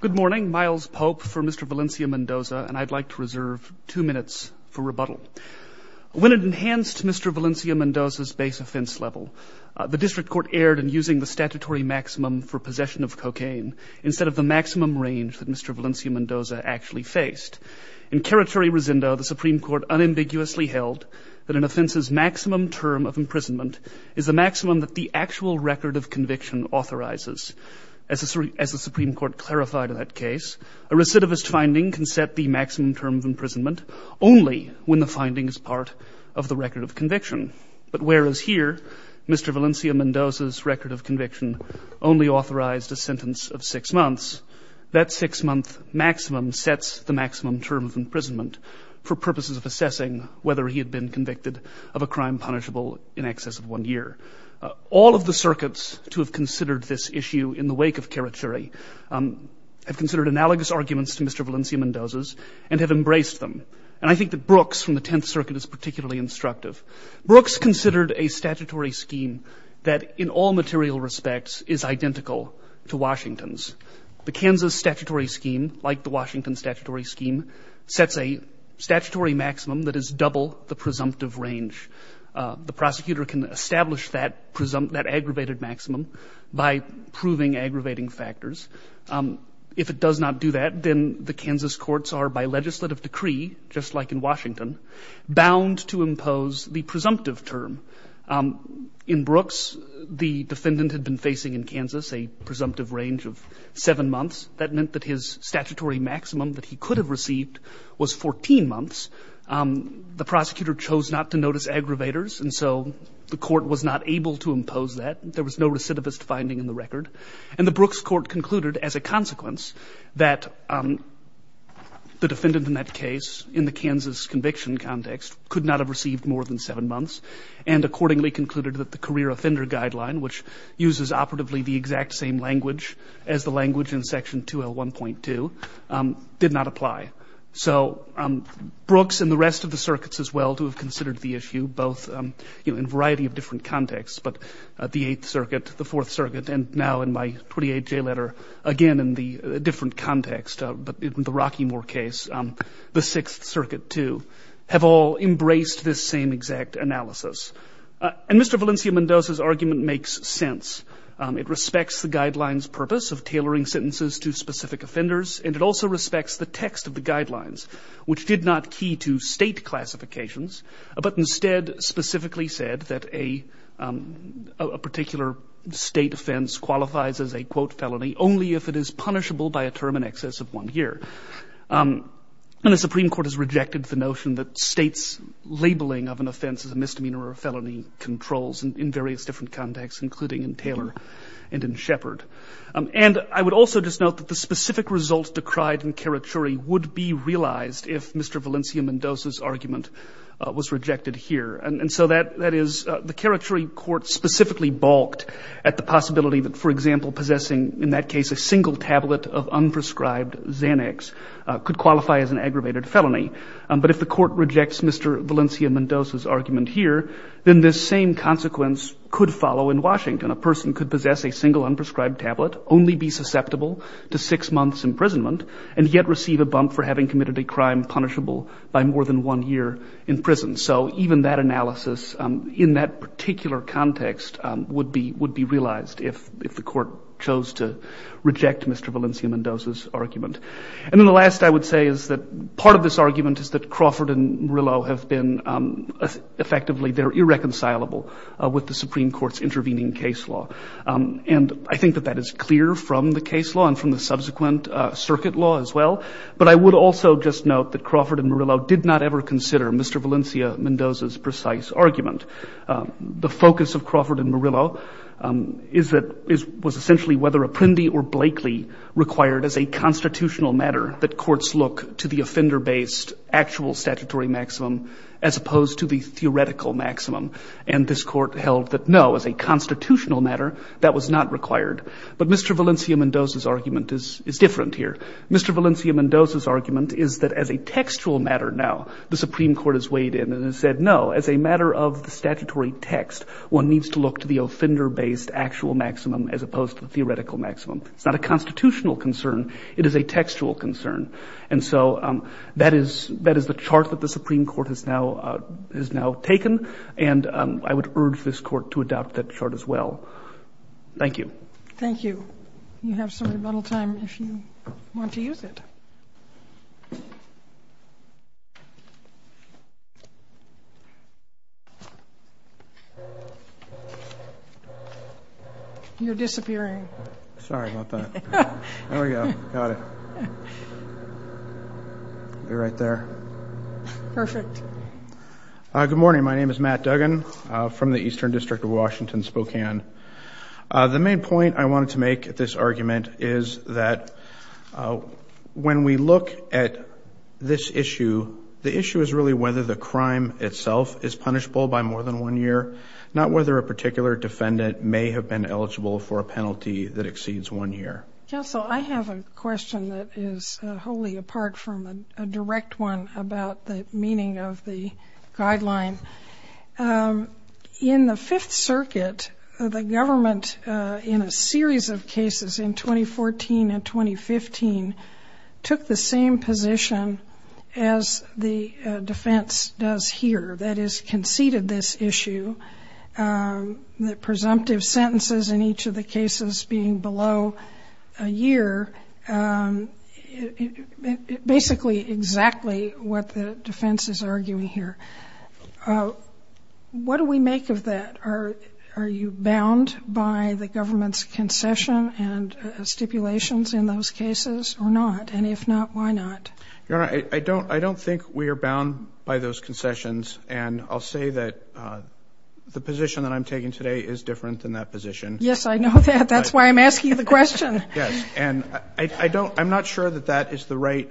Good morning. Myles Pope for Mr. Valencia-Mendoza, and I'd like to reserve two minutes for rebuttal. When it enhanced Mr. Valencia-Mendoza's base offense level, the district court erred in using the statutory maximum for possession of cocaine instead of the maximum range that Mr. Valencia-Mendoza actually faced. In territory resendo, the Supreme Court unambiguously held that an offense's maximum term of imprisonment is the maximum that the actual record of conviction should be verified in that case. A recidivist finding can set the maximum term of imprisonment only when the finding is part of the record of conviction. But whereas here, Mr. Valencia-Mendoza's record of conviction only authorized a sentence of six months, that six-month maximum sets the maximum term of imprisonment for purposes of assessing whether he had been convicted of a crime punishable in excess of one year. All of the circuits to have considered this issue in the wake of Karachuri have considered analogous arguments to Mr. Valencia-Mendoza's and have embraced them. And I think that Brooks from the Tenth Circuit is particularly instructive. Brooks considered a statutory scheme that in all material respects is identical to Washington's. The Kansas statutory scheme, like the Washington statutory scheme, sets a statutory maximum that is double the presumptive range. The prosecutor can establish that presumptive, that aggravated maximum by proving aggravating factors. If it does not do that, then the Kansas courts are, by legislative decree, just like in Washington, bound to impose the presumptive term. In Brooks, the defendant had been facing in Kansas a presumptive range of seven months. That meant that his statutory maximum that he could have received was 14 months. The prosecutor chose not to notice aggravators, and so the court was not able to impose that. There was no recidivist finding in the record. And the Brooks court concluded, as a consequence, that the defendant in that case, in the Kansas conviction context, could not have received more than seven months and accordingly concluded that the career offender guideline, which uses operatively the exact same language as the language in Section 2L1.2, did not apply. So Brooks and the rest of the circuits, as well, who have considered the issue, both in a variety of different contexts, but the Eighth Circuit, the Fourth Circuit, and now in my 28-J letter, again in the different context, but in the Rockymore case, the Sixth Circuit, too, have all embraced this same exact analysis. And Mr. Valencia-Mendoza's argument makes sense. It respects the guidelines' purpose of tailoring sentences to specific offenders, and it also respects the text of the guidelines, which did not key to state classifications, but instead specifically said that a particular state offense qualifies as a, quote, felony only if it is punishable by a term in excess of one year. And the Supreme Court has rejected the notion that states' labeling of an offense as a misdemeanor or felony controls in various different contexts, including in Taylor and in Shepard. And I would also just note that the specific results decried in Karachuri would be realized if Mr. Valencia-Mendoza's argument was rejected here. And so that is, the Karachuri Court specifically balked at the possibility that, for example, possessing, in that case, a single tablet of unprescribed Xanax could qualify as an aggravated felony. But if the court rejects Mr. Valencia-Mendoza's argument here, then this same consequence could follow in Washington. A person could possess a single unprescribed tablet, only be susceptible to six months imprisonment, and yet receive a bump for having committed a crime punishable by more than one year in prison. So even that analysis in that particular context would be would be realized if the court chose to reject Mr. Valencia-Mendoza's argument. And then the last I would say is that part of this argument is that Crawford and Merillo have been effectively, they're irreconcilable with the Supreme Court's intervening case law. And I think that that is clear from the case law and from the subsequent circuit law as well. But I would also just note that Crawford and Merillo did not ever consider Mr. Valencia-Mendoza's precise argument. The focus of Crawford and Merillo is that, was essentially whether Apprendi or Blakely required as a constitutional matter that courts look to the offender-based actual statutory maximum as opposed to the theoretical maximum. And this court held that no, as a constitutional matter, that was not required. But Mr. Valencia-Mendoza's argument is different here. Mr. Valencia-Mendoza's argument is that as a textual matter now, the Supreme Court has weighed in and has said no, as a matter of the statutory text, one needs to look to the offender-based actual maximum as opposed to the theoretical maximum. It's not a constitutional concern. It is a textual concern. And so that is the chart that the Supreme Court has now taken, and I would urge this court to adopt that chart as well. Thank you. Thank you. You have some rebuttal time if you want to use it. You're disappearing. Sorry about that. Be right there. Perfect. Good morning. My name is Matt Duggan from the Eastern District of Washington, Spokane. The main point I wanted to make at this argument is that when we look at this issue, the issue is really whether the crime itself is punishable by more than one year, not whether a particular defendant may have been eligible for a penalty that exceeds one year. Counsel, I have a question that is wholly apart from a direct one about the meaning of the guideline. In the Fifth Circuit, the government, in a series of cases in 2014 and 2015, took the same position as the defense does here, that is, conceded this issue, the presumptive sentences in each of the cases being below a year, basically exactly what the defense is arguing here. What do we make of that? Are you bound by the government's concession and stipulations in those cases or not? And if not, why not? Your Honor, I don't think we are bound by those concessions, and I'll say that the position that I'm taking today is different than that position. Yes, I know that. That's why I'm asking you the question. Yes, and I don't, I'm not sure that that is the right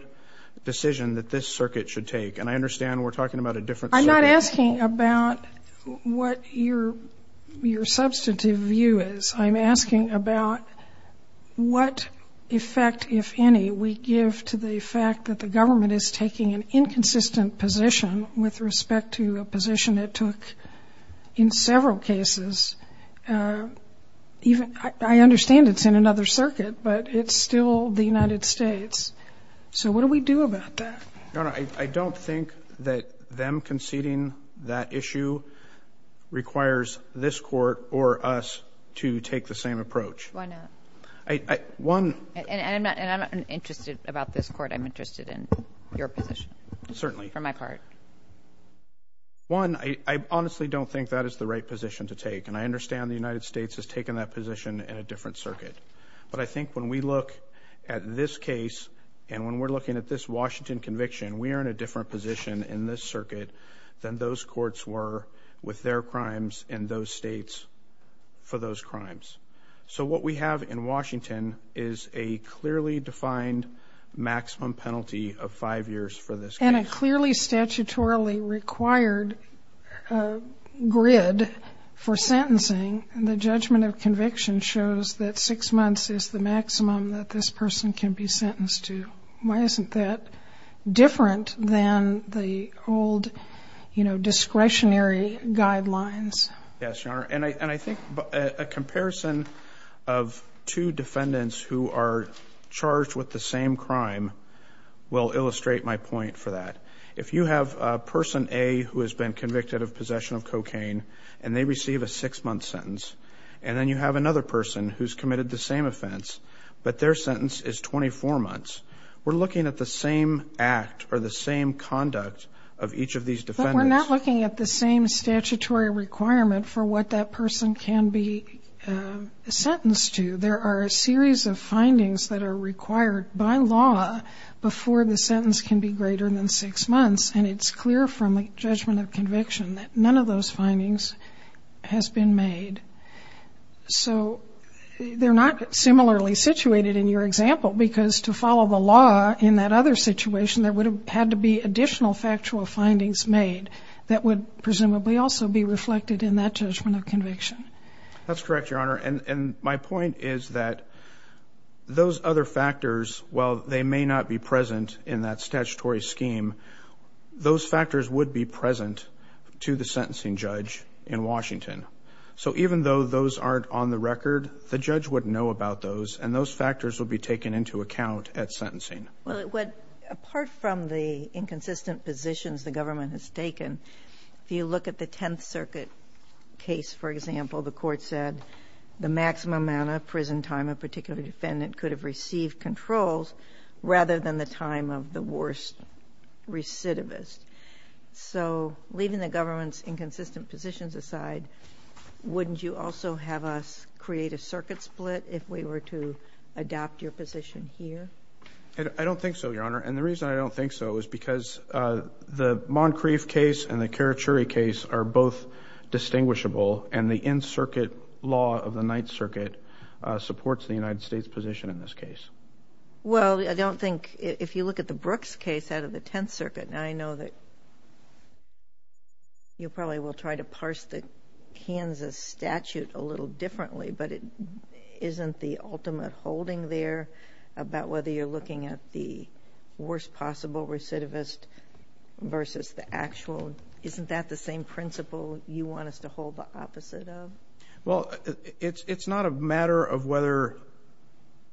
decision that this circuit should take, and I understand we're talking about a different circuit. I'm not asking about what your your substantive view is. I'm asking about what effect, if any, we give to the fact that the government is taking an inconsistent position with respect to a position it took in several cases. Even, I understand it's in another circuit, but it's still the United States. So what do we do about that? Your Honor, I don't think that them conceding that issue requires this Court or us to take the same approach. Why not? One... And I'm not interested about this Court. I'm interested in your position. Certainly. For my part. One, I honestly don't think that is the right position to take, and I understand the United States has taken that position in a different circuit. But I think when we look at this case, and when we're looking at this Washington conviction, we are in a different position in this circuit than those courts were with their crimes in those states for those crimes. So what we have in Washington is a clearly defined maximum penalty of five years for this case. And a clearly statutorily required grid for sentencing, and the judgment of conviction shows that six months is the maximum that this person can be sentenced to. Why isn't that different than the old, you know, discretionary guidelines? Yes, Your Honor. And I think a comparison of two defendants who are charged with the same crime will illustrate my point for that. If you have a person, A, who has been convicted of possession of cocaine, and they receive a six-month sentence, and then you have another person who's committed the same offense, but their sentence is 24 months, we're looking at the same act or the same conduct of each of these defendants. We're not looking at the same statutory requirement for what that person can be sentenced to. There are a series of findings that are required by law before the sentence can be greater than six months, and it's clear from a judgment of conviction that none of those findings has been made. So they're not similarly situated in your example, because to follow the law in that other situation, there would have had to be additional factual findings made that would presumably also be reflected in that judgment of conviction. That's correct, Your Honor. And my point is that those other factors, while they may not be present in that statutory scheme, those factors would be present to the sentencing judge in Washington. So even though those aren't on the record, the judge would know about those, and those factors will be taken into account at sentencing. Well, apart from the inconsistent positions the government has taken, if you look at the Tenth Circuit case, for example, the court said the maximum amount of prison time a particular defendant could have received controls rather than the time of the worst recidivist. So leaving the government's inconsistent positions aside, wouldn't you also have us create a circuit split if we were to adopt your position here? I don't think so, Your Honor, and the reason I don't think so is because the Moncrief case and the Karachuri case are both distinguishable, and the in-circuit law of the Ninth Circuit supports the United States position in this case. Well, I don't think, if you look at the Brooks case out of the Tenth Circuit, and I know that you probably will try to parse the Kansas statute a little differently, but it isn't the ultimate holding there about whether you're looking at the worst possible recidivist versus the actual. Isn't that the same principle you want us to hold the opposite of? Well, it's not a matter of whether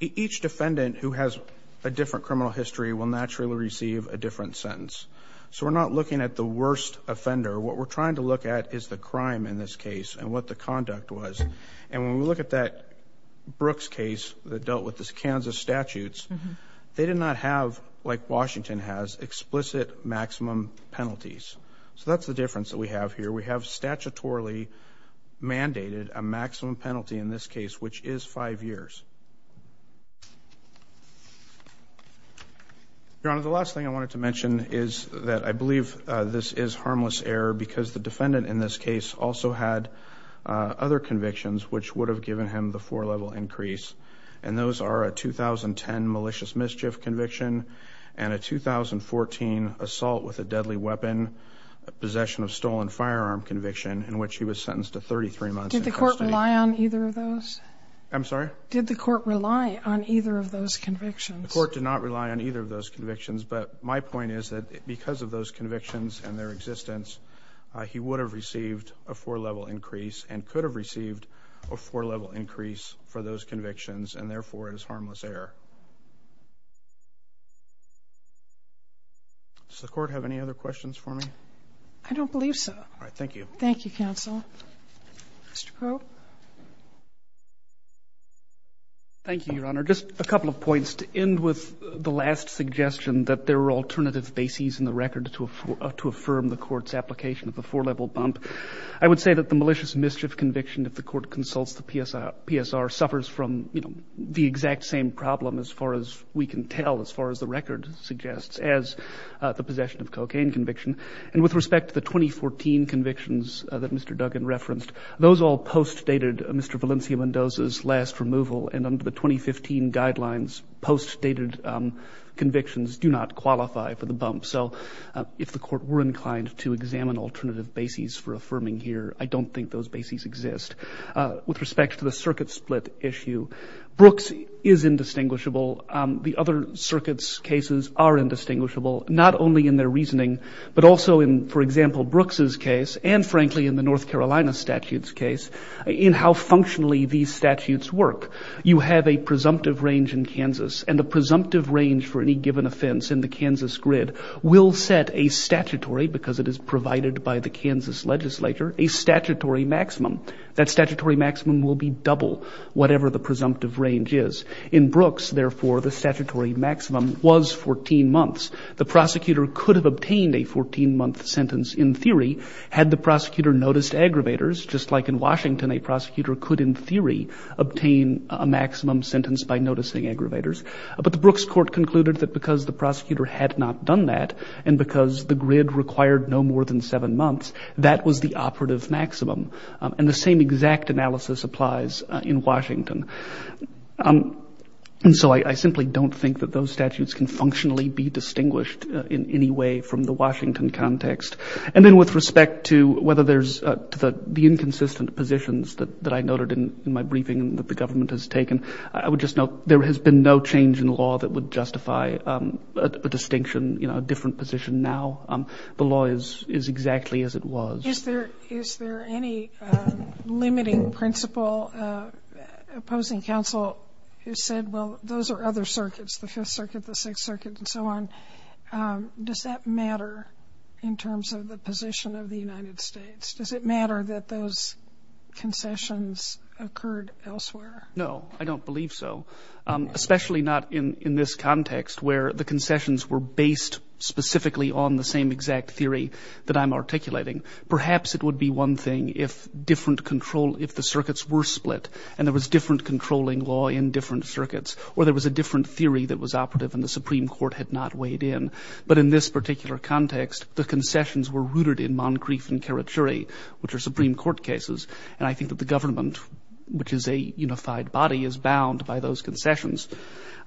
each defendant who has a different criminal history will naturally receive a different sentence. So we're not looking at the worst offender. What we're trying to look at is the crime in this case and what the conduct was, and when we look at that Brooks case that dealt with the Kansas statutes, they did not have, like Washington has, explicit maximum penalties. So that's the difference that we have here. We have statutorily mandated a maximum penalty in this case, which is five years. Your Honor, the last thing I wanted to mention is that I believe this is harmless error because the defendant in this case also had other convictions which would have given him the four-level increase, and those are a 2010 malicious mischief conviction and a 2014 assault with a deadly weapon, possession of stolen firearm conviction, in which he was sentenced to 33 months. Did the court rely on either of those? I'm sorry? Did the court rely on either of those convictions? The court did not rely on either of those convictions, but my point is that because of those convictions and their existence, he would have received a four-level increase and could have received a four-level increase for those convictions, and therefore it is harmless error. Does the court have any other questions for me? I don't believe so. All right. Thank you. Thank you, counsel. Mr. Crowe? Thank you, Your Honor. Just a couple of points to end with the last application of the four-level bump. I would say that the malicious mischief conviction, if the court consults the PSR, suffers from, you know, the exact same problem, as far as we can tell, as far as the record suggests, as the possession of cocaine conviction, and with respect to the 2014 convictions that Mr. Duggan referenced, those all post-dated Mr. Valencia Mendoza's last removal, and under the 2015 guidelines, post-dated convictions do not qualify for the bump. So if the court were inclined to examine alternative bases for affirming here, I don't think those bases exist. With respect to the circuit split issue, Brooks is indistinguishable. The other circuits' cases are indistinguishable, not only in their reasoning, but also in, for example, Brooks's case and, frankly, in the North Carolina statute's case, in how the presumptive range for any given offense in the Kansas grid will set a statutory, because it is provided by the Kansas legislature, a statutory maximum. That statutory maximum will be double whatever the presumptive range is. In Brooks, therefore, the statutory maximum was 14 months. The prosecutor could have obtained a 14-month sentence in theory, had the prosecutor noticed aggravators, just like in Washington, a prosecutor could, in theory, obtain a maximum sentence by noticing aggravators. But the Brooks court concluded that because the prosecutor had not done that, and because the grid required no more than seven months, that was the operative maximum. And the same exact analysis applies in Washington. And so I simply don't think that those statutes can functionally be distinguished in any way from the Washington context. And then with respect to whether there's the inconsistent positions that I noted in my briefing that the government has taken, I would just note there has been no change in law that would justify a distinction, you know, a different position now. The law is exactly as it was. Is there any limiting principle opposing counsel who said, well, those are other circuits, the Fifth Circuit, the Sixth Circuit, and so on. Does that matter in terms of the position of the United States? Does it matter that those concessions occurred elsewhere? No, I don't believe so. Especially not in this context where the concessions were based specifically on the same exact theory that I'm articulating. Perhaps it would be one thing if different control, if the circuits were split and there was different But in this particular context, the concessions were rooted in Moncrief and Karachuri, which are Supreme Court cases. And I think that the government, which is a unified body, is bound by those concessions.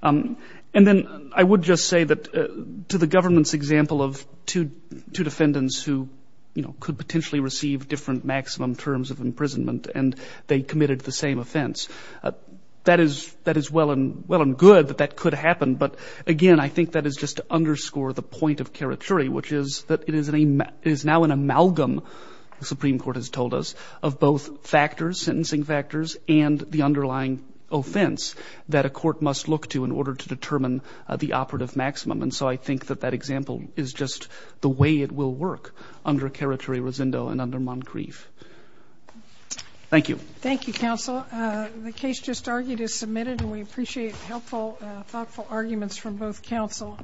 And then I would just say that to the government's example of two defendants who, you know, could potentially receive different maximum terms of imprisonment and they committed the same offense. That is well and good that that could happen. But again, I think that is just to underscore the point of Karachuri, which is that it is now an amalgam, the Supreme Court has told us, of both factors, sentencing factors, and the underlying offense that a court must look to in order to determine the operative maximum. And so I think that that example is just the way it will work under Karachuri-Rosendo and under Moncrief. Thank you. Thank you, counsel. The case just argued is submitted and we appreciate helpful, thoughtful arguments from both counsel.